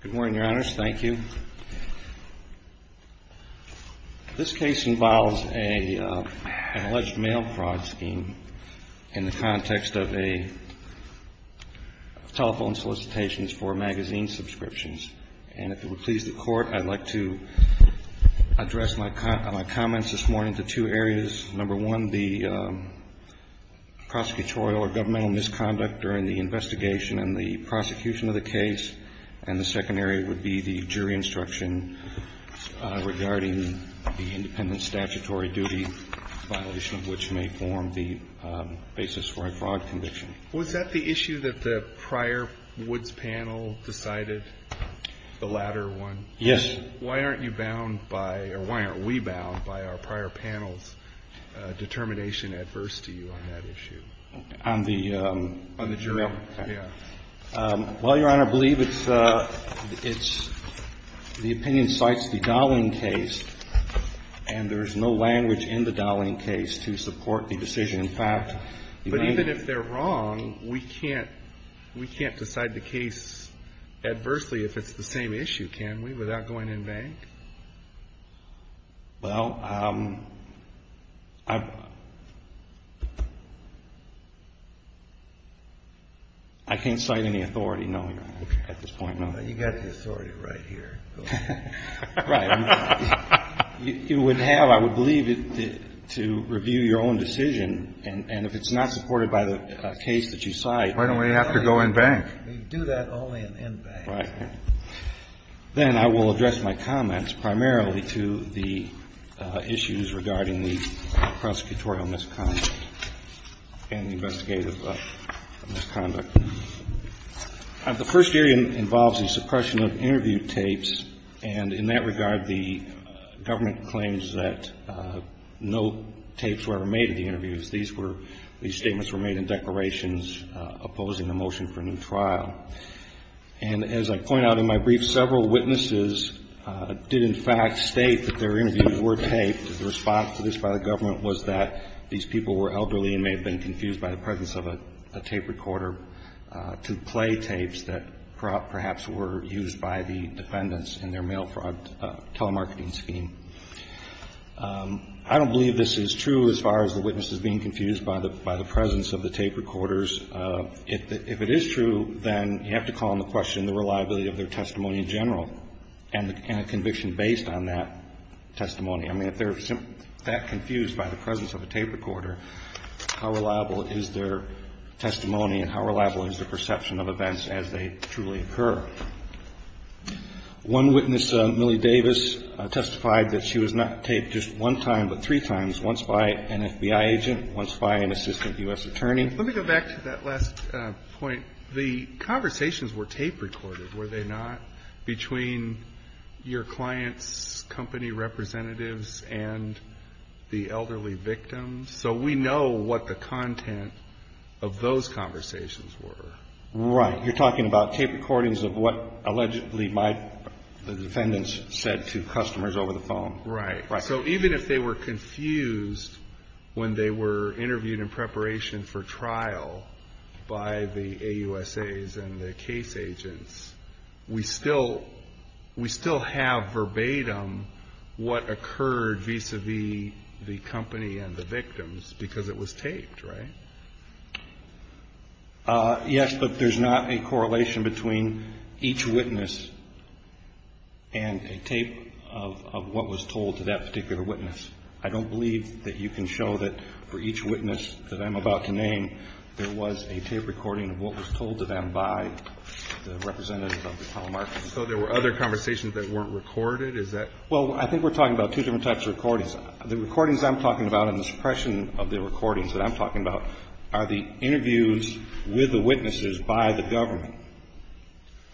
Good morning, Your Honors. Thank you. This case involves an alleged mail fraud scheme in the context of a telephone solicitation for magazine subscriptions. And if it would please the Court, I'd like to address my comments this morning to two areas. Number one, the prosecutorial or governmental misconduct during the investigation and the prosecution of the case. And the second area would be the jury instruction regarding the independent statutory duty violation, which may form the basis for a fraud conviction. Was that the issue that the prior Woods panel decided, the latter one? Yes. Why aren't you bound by, or why aren't we bound by our prior panel's determination adverse to you on that issue? On the jury? Yeah. Well, Your Honor, I believe it's the opinion cites the Dowling case, and there is no language in the Dowling case to support the decision. In fact, you might be able to see it. But even if they're wrong, we can't decide the case adversely if it's the same issue, can we, without going in vain? Well, I can't cite any authority, no, Your Honor, at this point, no. You've got the authority right here. Right. You would have, I would believe, to review your own decision, and if it's not supported by the case that you cite you've got to go in vain. You do that only in vain. Right. Then I will address my comments primarily to the issues regarding the prosecutorial misconduct and the investigative misconduct. The first area involves the suppression of interview tapes, and in that regard, the government claims that no tapes were ever made at the interviews. These were the statements were made in declarations opposing the motion for a new trial. And as I point out in my brief, several witnesses did in fact state that their interviews were taped. The response to this by the government was that these people were elderly and may have been confused by the presence of a tape recorder to play tapes that perhaps were used by the defendants in their mail fraud telemarketing scheme. I don't believe this is true as far as the witness is being confused by the presence of the tape recorders. If it is true, then you have to call into question the reliability of their testimony in general and a conviction based on that testimony. I mean, if they're that confused by the presence of a tape recorder, how reliable is their testimony and how reliable is their perception of events as they truly occur? One witness, Millie Davis, testified that she was not taped just one time but three times, once by an FBI agent, once by an assistant U.S. attorney. Let me go back to that last point. The conversations were tape recorded, were they not, between your client's company representatives and the elderly victims? So we know what the content of those conversations were. Right. You're talking about tape recordings of what allegedly my defendants said to customers over the phone. Right. So even if they were confused when they were interviewed in preparation for trial by the AUSAs and the case agents, we still have verbatim what occurred vis-a-vis the company and the victims because it was taped, right? Yes, but there's not a correlation between each witness and a tape of what was told to that particular witness. I don't believe that you can show that for each witness that I'm about to name, there was a tape recording of what was told to them by the representative of the telemarketing. So there were other conversations that weren't recorded? Is that? Well, I think we're talking about two different types of recordings. The recordings I'm talking about and the suppression of the recordings that I'm talking about are the interviews with the witnesses by the government.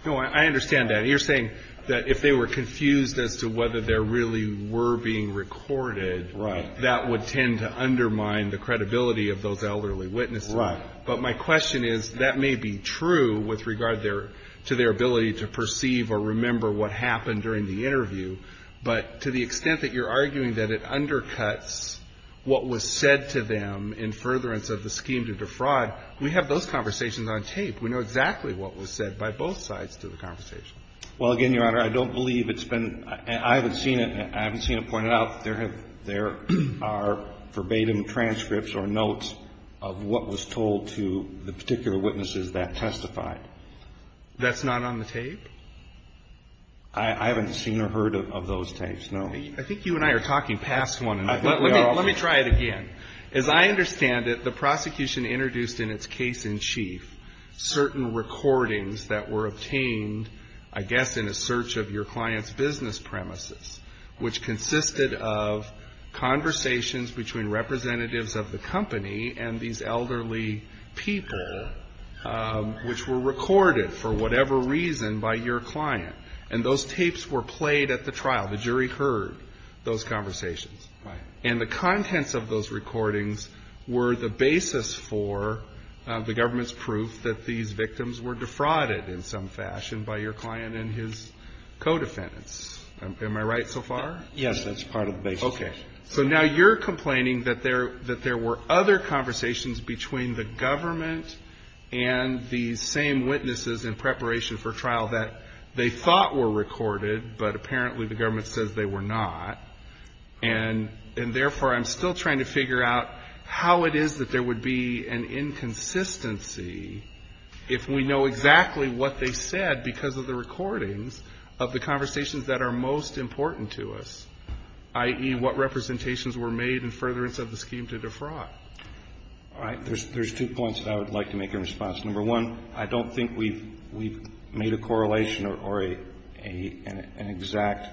No, I understand that. You're saying that if they were confused as to whether there really were being recorded, that would tend to undermine the credibility of those elderly witnesses. Right. But my question is, that may be true with regard to their ability to perceive or remember what happened during the interview, but to the extent that you're arguing that it undercuts what was said to them in furtherance of the scheme to defraud, we have those conversations on tape. We know exactly what was said by both sides to the conversation. Well, again, Your Honor, I don't believe it's been – I haven't seen it. I haven't seen it pointed out that there have – there are verbatim transcripts or notes of what was told to the particular witnesses that testified. That's not on the tape? I haven't seen or heard of those tapes, no. I think you and I are talking past one. Let me try it again. As I understand it, the prosecution introduced in its case in chief certain recordings that were obtained, I guess, in a search of your client's business premises, which consisted of conversations between representatives of the company and these elderly people, which were recorded, for whatever reason, by your client. And those tapes were played at the trial. The jury heard those conversations. Right. And the contents of those recordings were the basis for the government's proof that these victims were defrauded in some fashion by your client and his co-defendants. Am I right so far? Yes, that's part of the basis. Okay. So now you're complaining that there were other conversations between the government and these same witnesses in preparation for trial that they thought were recorded, but apparently the government says they were not. And therefore, I'm still trying to figure out how it is that there would be an inconsistency if we know exactly what they said because of the recordings of the conversations that are most important to us, i.e. what representations were made in furtherance of the scheme to defraud. All right. There's two points that I would like to make in response. Number one, I don't think we've made a correlation or an exact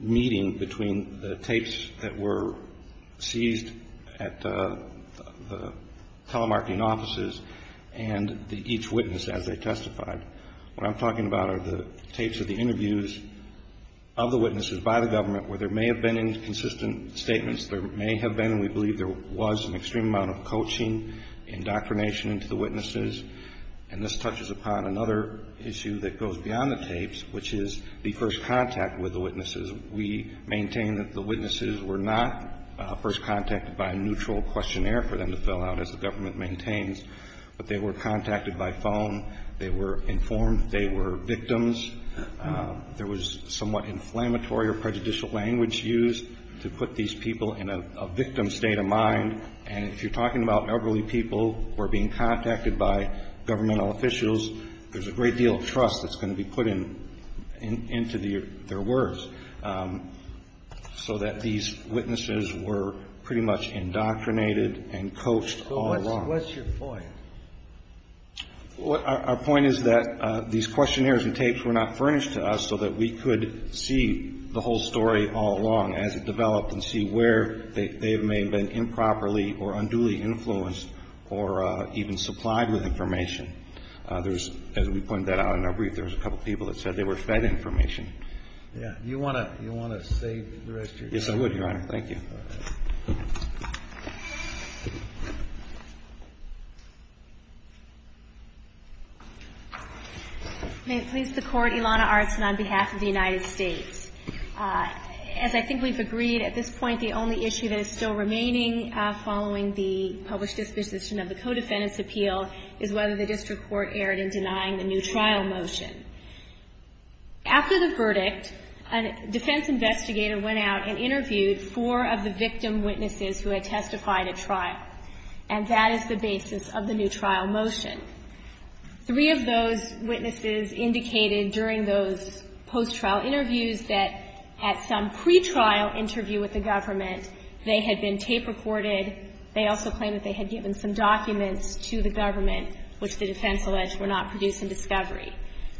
meeting between the telemarketing offices and each witness as they testified. What I'm talking about are the tapes of the interviews of the witnesses by the government where there may have been inconsistent statements. There may have been, and we believe there was, an extreme amount of coaching, indoctrination into the witnesses. And this touches upon another issue that goes beyond the tapes, which is the first contact with the witnesses. We maintain that the witnesses were not first contacted by a neutral questionnaire for them to fill out, as the government maintains, but they were contacted by phone. They were informed they were victims. There was somewhat inflammatory or prejudicial language used to put these people in a victim state of mind. And if you're talking about elderly people who are being contacted by governmental officials, there's a great deal of trust that's going to be put into their words so that these witnesses were pretty much indoctrinated and coached all along. So what's your point? Our point is that these questionnaires and tapes were not furnished to us so that we could see the whole story all along as it developed and see where they may have been improperly or unduly influenced or even supplied with information. There's, as we pointed that out in our brief, there was a couple of people that said they were fed information. Yeah. You want to save the rest of your time? Yes, I would, Your Honor. Thank you. May it please the Court, Ilana Artson on behalf of the United States. As I think we've agreed at this point, the only issue that is still remaining following the published disposition of the Codefendants' Appeal is whether the district court erred in denying the new trial motion. After the verdict, a defense investigator went out and interviewed four of the victim witnesses who had testified at trial, and that is the basis of the new trial motion. Three of those witnesses indicated during those post-trial interviews that at some pre-trial interview with the government, they had been tape-recorded. They also claimed that they had given some documents to the government which the defense alleged were not produced in discovery.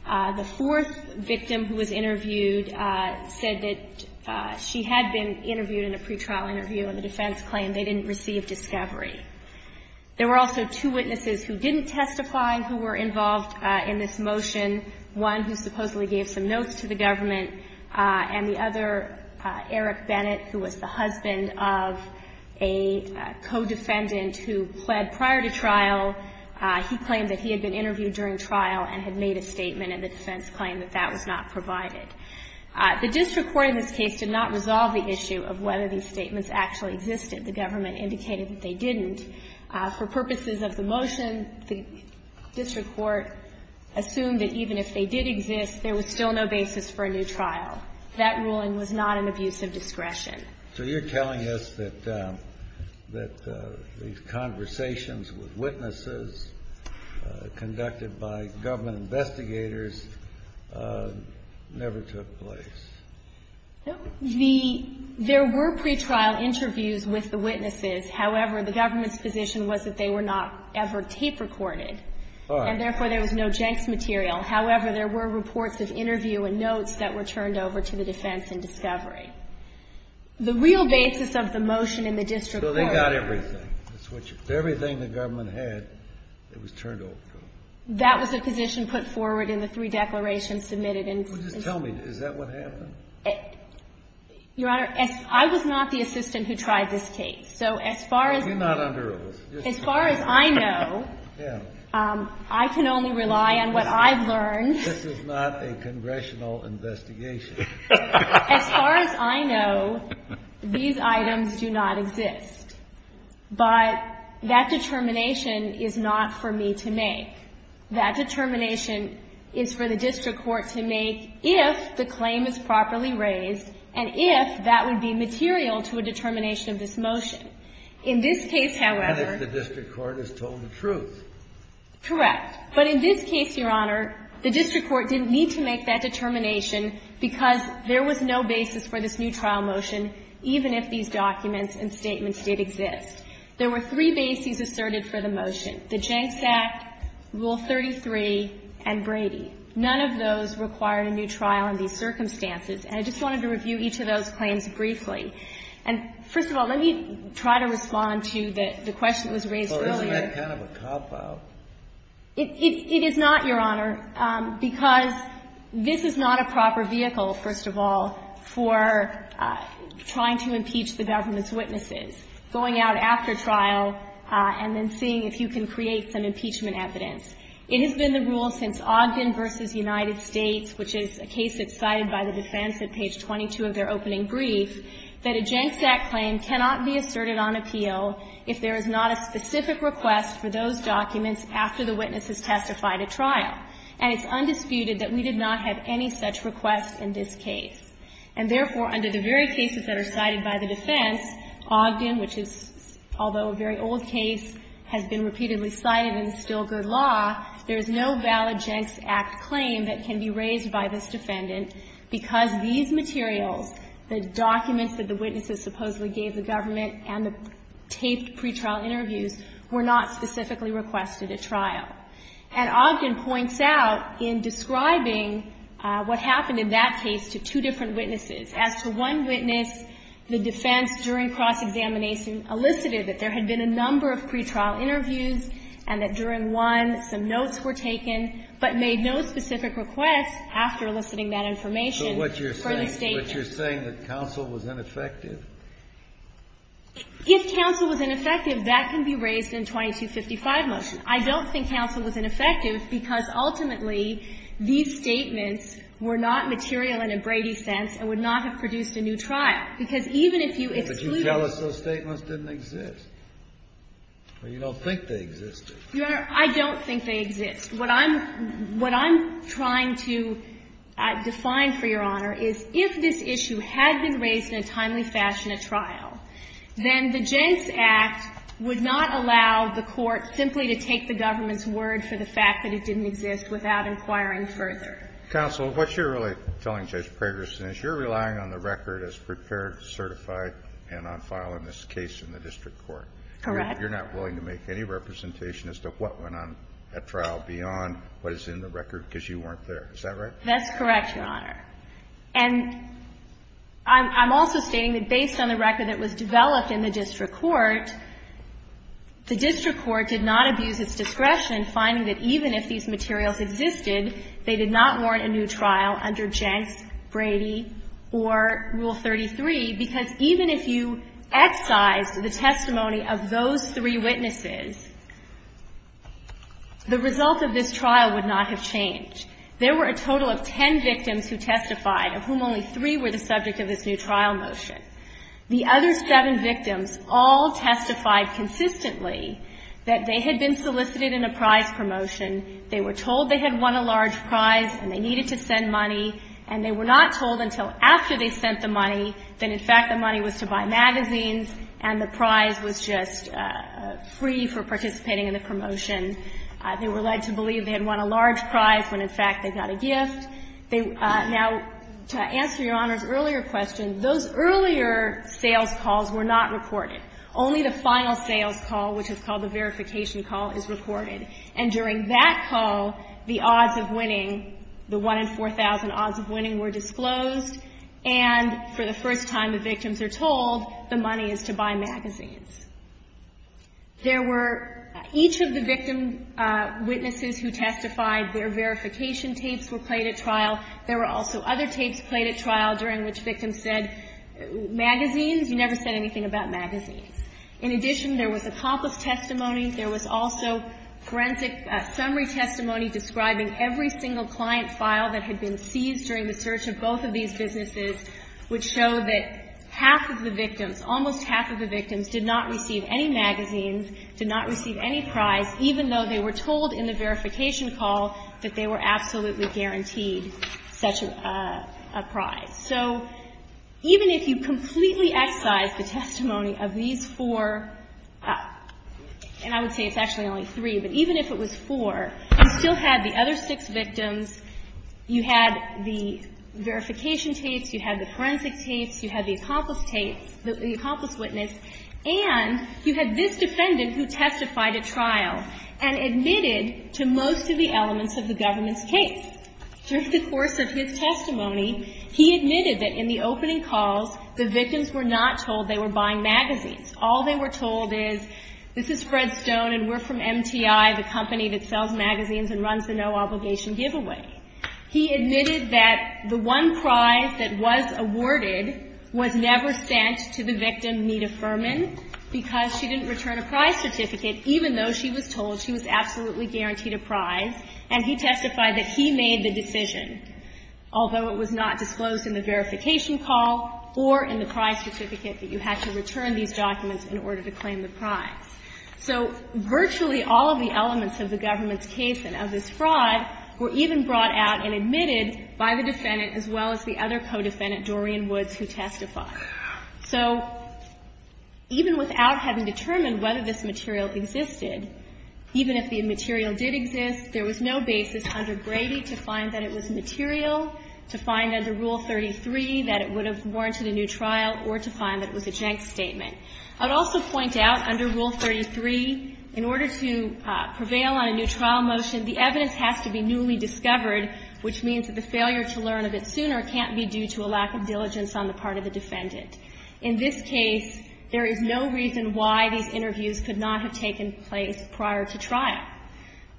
The fourth victim who was interviewed said that she had been interviewed in a pre-trial interview, and the defense claimed they didn't receive discovery. There were also two witnesses who didn't testify who were involved in this motion, one who supposedly gave some notes to the government, and the other, Eric Bennett, who was the husband of a codefendant who pled prior to trial. He claimed that he had been interviewed during trial and had made a statement, and the defense claimed that that was not provided. The district court in this case did not resolve the issue of whether these statements actually existed. The government indicated that they didn't. For purposes of the motion, the district court assumed that even if they did exist, there was still no basis for a new trial. That ruling was not an abuse of discretion. So you're telling us that these conversations with witnesses conducted by government investigators never took place? There were pre-trial interviews with the witnesses. However, the government's position was that they were not ever tape-recorded, and therefore there was no Jenks material. However, there were reports of interview and notes that were turned over to the defense in discovery. The real basis of the motion in the district court was that it was turned over to the government. So they got everything, everything the government had, it was turned over to them. That was the position put forward in the three declarations submitted in this case. Well, just tell me, is that what happened? Your Honor, I was not the assistant who tried this case. So as far as I know, I can only rely on what I've learned. This is not a congressional investigation. As far as I know, these items do not exist, but that determination is not for me to make. That determination is for the district court to make if the claim is properly raised and if that would be material to a determination of this motion. In this case, however... But if the district court has told the truth. Correct. But in this case, Your Honor, the district court didn't need to make that determination because there was no basis for this new trial motion, even if these documents and statements did exist. There were three bases asserted for the motion. The Jenks Act, Rule 33, and Brady. None of those required a new trial in these circumstances. And I just wanted to review each of those claims briefly. And first of all, let me try to respond to the question that was raised earlier. Well, isn't that kind of a cop-out? It is not, Your Honor, because this is not a proper vehicle, first of all, for trying to impeach the government's witnesses, going out after trial and then seeing if you can create some impeachment evidence. It has been the rule since Ogden v. United States, which is a case that's cited by the defense at page 22 of their opening brief, that a Jenks Act claim cannot be asserted on appeal if there is not a specific request for those documents after the witness has testified at trial. And it's undisputed that we did not have any such request in this case. And therefore, under the very cases that are cited by the defense, Ogden, which is, although a very old case, has been repeatedly cited in Stilger law, there is no valid Jenks Act claim that can be raised by this defendant because these materials, the documents that the witnesses supposedly gave the government and the taped pretrial interviews, were not specifically requested at trial. And Ogden points out in describing what happened in that case to two different witnesses. As to one witness, the defense during cross-examination elicited that there had been a number of pretrial interviews and that during one, some notes were taken, but made no specific requests after eliciting that information for the statement. So what you're saying, you're saying that counsel was ineffective? If counsel was ineffective, that can be raised in 2255 motion. I don't think counsel was ineffective because ultimately, these statements were not material in a Brady sense and would not have produced a new trial. Because even if you excluded them. But you tell us those statements didn't exist. Well, you don't think they existed. Your Honor, I don't think they exist. What I'm trying to define for Your Honor is if this issue had been raised in a timely fashion at trial, then the Jenks Act would not allow the court simply to take the government's word for the fact that it didn't exist without inquiring further. Counsel, what you're really telling Judge Pragerson is you're relying on the record as prepared, certified, and on file in this case in the district court. Correct. You're not willing to make any representation as to what went on at trial beyond what is in the record because you weren't there. Is that right? That's correct, Your Honor. And I'm also stating that based on the record that was developed in the district court, the district court did not abuse its discretion finding that even if these materials existed, they did not warrant a new trial under Jenks, Brady, or Rule 33, because even if you excised the testimony of those three witnesses, the result of this trial would not have changed. There were a total of ten victims who testified, of whom only three were the subject of this new trial motion. The other seven victims all testified consistently that they had been solicited in a prize promotion, they were told they had won a large prize and they needed to send money, and they were not told until after they sent the money that, in fact, the money was to buy magazines and the prize was just free for participating in the promotion. They were led to believe they had won a large prize when, in fact, they got a gift. Now, to answer Your Honor's earlier question, those earlier sales calls were not recorded. Only the final sales call, which is called the verification call, is recorded. And during that call, the odds of winning, the 1 in 4,000 odds of winning were disclosed, and for the first time the victims are told the money is to buy magazines. There were, each of the victim witnesses who testified, their verification tapes were played at trial. There were also other tapes played at trial during which victims said, magazines? You never said anything about magazines. In addition, there was accomplice testimony. There was also forensic summary testimony describing every single client file that had been seized during the search of both of these businesses, which showed that half of the victims, almost half of the victims, did not receive any magazines, did not receive any prize, even though they were told in the verification call that they were absolutely guaranteed such a prize. So even if you completely excise the testimony of these four, and I would say it's actually only three, but even if it was four, you still had the other six victims, you had the verification tapes, you had the forensic tapes, you had the accomplice tapes, the accomplice witness, and you had this defendant who testified at trial and admitted to most of the elements of the government's case. During the course of his testimony, he admitted that in the opening calls, the victims were not told they were buying magazines. All they were told is, this is Fred Stone and we're from MTI, the company that sells magazines and runs the no-obligation giveaway. He admitted that the one prize that was awarded was never sent to the victim, Nita Furman, because she didn't return a prize certificate, even though she was told she was absolutely guaranteed a prize. And he testified that he made the decision, although it was not disclosed in the verification call or in the prize certificate that you had to return these documents in order to claim the prize. So virtually all of the elements of the government's case and of this fraud were even brought out and admitted by the defendant as well as the other co-defendant, Dorian Woods, who testified. So even without having determined whether this material existed, even if the material did exist, there was no basis under Brady to find that it was material, to find under Rule 33 that it would have warranted a new trial, or to find that it was a jank statement. I would also point out under Rule 33, in order to prevail on a new trial motion, the evidence has to be newly discovered, which means that the failure to learn of it sooner can't be due to a lack of diligence on the part of the defendant. In this case, there is no reason why these interviews could not have taken place prior to trial.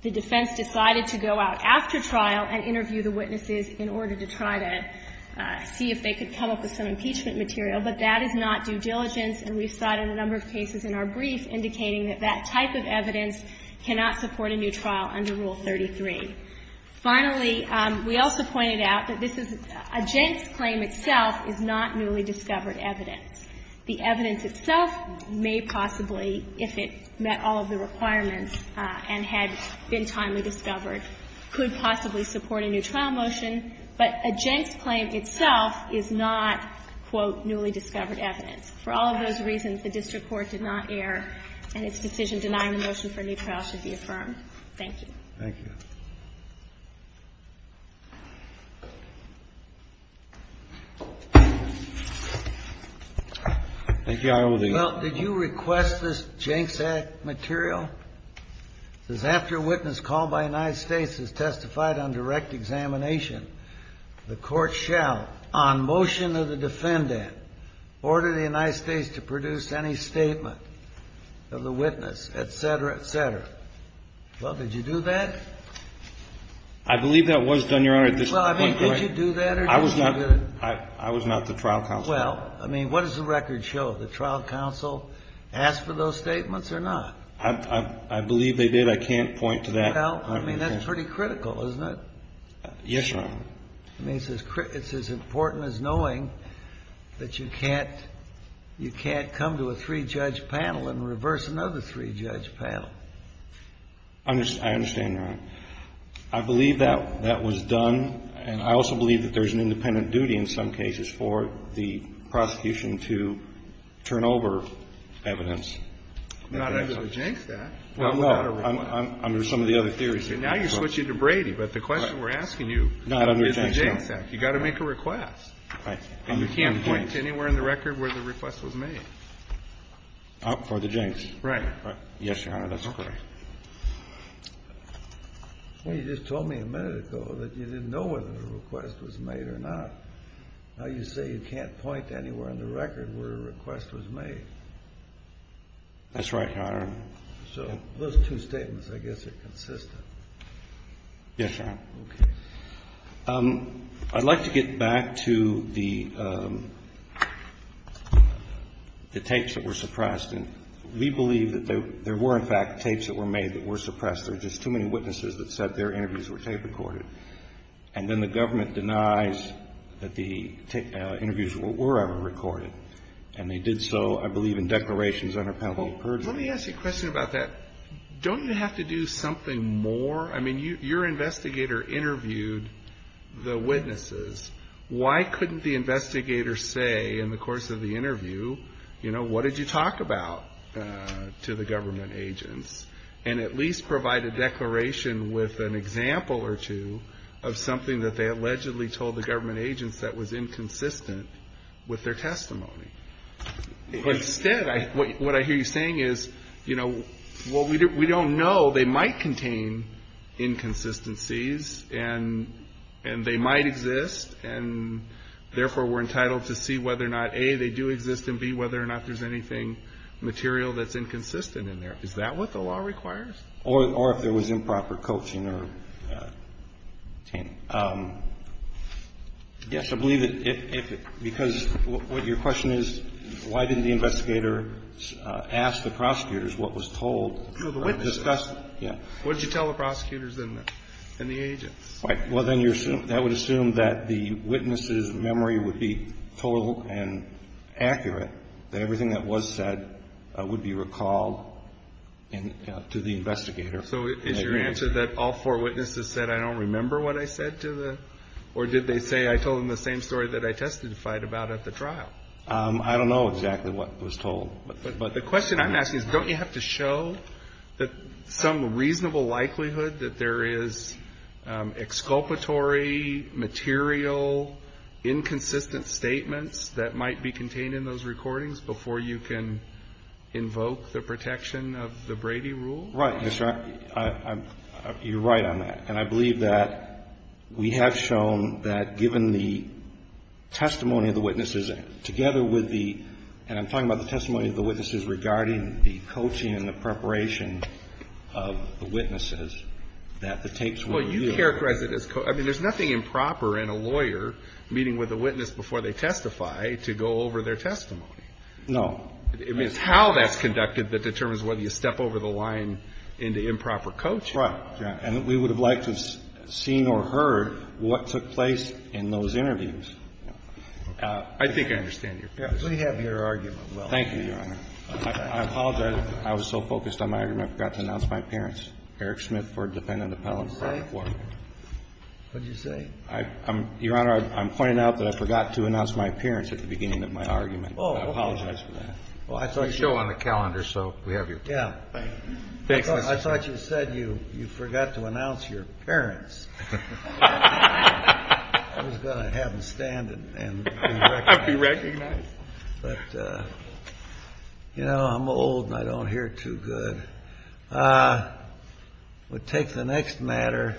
The defense decided to go out after trial and interview the witnesses in order to try to see if they could come up with some impeachment material, but that is not due diligence, and we've cited a number of cases in our brief indicating that that type of evidence cannot support a new trial under Rule 33. Finally, we also pointed out that this is a jank's claim itself is not newly discovered evidence. The evidence itself may possibly, if it met all of the requirements and had been timely discovered, could possibly support a new trial motion, but a jank's claim itself is not, quote, newly discovered evidence. For all of those reasons, the district court did not err, and its decision denying the motion for a new trial should be affirmed. Thank you. Thank you. Well, did you request this jank's act material? It says, after a witness called by the United States has testified on direct examination, the court shall, on motion of the defendant, order the United States to produce any statement of the witness, et cetera, et cetera. Well, did you do that? I believe that was done, Your Honor. Well, I mean, did you do that or did you not? I was not the trial counsel. Well, I mean, what does the record show? The trial counsel asked for those statements or not? I believe they did. I can't point to that. Well, I mean, that's pretty critical, isn't it? Yes, Your Honor. I mean, it's as important as knowing that you can't come to a three-judge panel and reverse another three-judge panel. I understand, Your Honor. I believe that was done, and I also believe that there's an independent duty in some cases for the prosecution to turn over evidence. Not under the Jank's Act. Well, no, under some of the other theories. Now you're switching to Brady, but the question we're asking you is the Jank's Act. You've got to make a request. Right. And you can't point to anywhere in the record where the request was made. For the Jank's. Right. Yes, Your Honor, that's correct. Well, you just told me a minute ago that you didn't know whether the request was made or not. Now you say you can't point to anywhere in the record where a request was made. That's right, Your Honor. So those two statements, I guess, are consistent. Yes, Your Honor. Okay. I'd like to get back to the tapes that were suppressed. We believe that there were, in fact, tapes that were made that were suppressed. There are just too many witnesses that said their interviews were tape recorded. And then the government denies that the interviews were ever recorded. And they did so, I believe, in declarations under penalty of perjury. Well, let me ask you a question about that. Don't you have to do something more? I mean, your investigator interviewed the witnesses. Why couldn't the investigator say in the course of the interview, you know, what did you talk about to the government agents, and at least provide a declaration with an example or two of something that they allegedly told the government agents that was inconsistent with their testimony? Instead, what I hear you saying is, you know, well, we don't know. They might contain inconsistencies. And they might exist. And, therefore, we're entitled to see whether or not, A, they do exist, and, B, whether or not there's anything material that's inconsistent in there. Is that what the law requires? Or if there was improper coaching or tainting. Yes, I believe that if it – because what your question is, why didn't the investigator ask the prosecutors what was told? Oh, the witnesses. Yeah. What did you tell the prosecutors and the agents? Well, then that would assume that the witnesses' memory would be total and accurate, that everything that was said would be recalled to the investigator. So is your answer that all four witnesses said, I don't remember what I said to the – or did they say I told them the same story that I testified about at the trial? I don't know exactly what was told. But the question I'm asking is, don't you have to show some reasonable likelihood that there is exculpatory, material, inconsistent statements that might be contained in those recordings before you can invoke the protection of the Brady Rule? Right. You're right on that. And I believe that we have shown that given the testimony of the witnesses, together with the – and I'm talking about the testimony of the witnesses regarding the coaching and the preparation of the witnesses, that the tapes would yield – Well, you characterize it as – I mean, there's nothing improper in a lawyer meeting with a witness before they testify to go over their testimony. No. I mean, it's how that's conducted that determines whether you step over the line into improper coaching. Right. And we would have liked to have seen or heard what took place in those interviews. I think I understand your point. We have your argument. Thank you, Your Honor. I apologize. I was so focused on my argument, I forgot to announce my parents. Eric Smith for defendant appellant. What did you say? What did you say? Your Honor, I'm pointing out that I forgot to announce my parents at the beginning of my argument. Oh, okay. I apologize for that. Well, I thought you – We show on the calendar, so we have your – Yeah. Thanks, Mr. Smith. I thought you said you forgot to announce your parents. I was going to have them stand and be recognized. Be recognized. But, you know, I'm old and I don't hear too good. We'll take the next matter.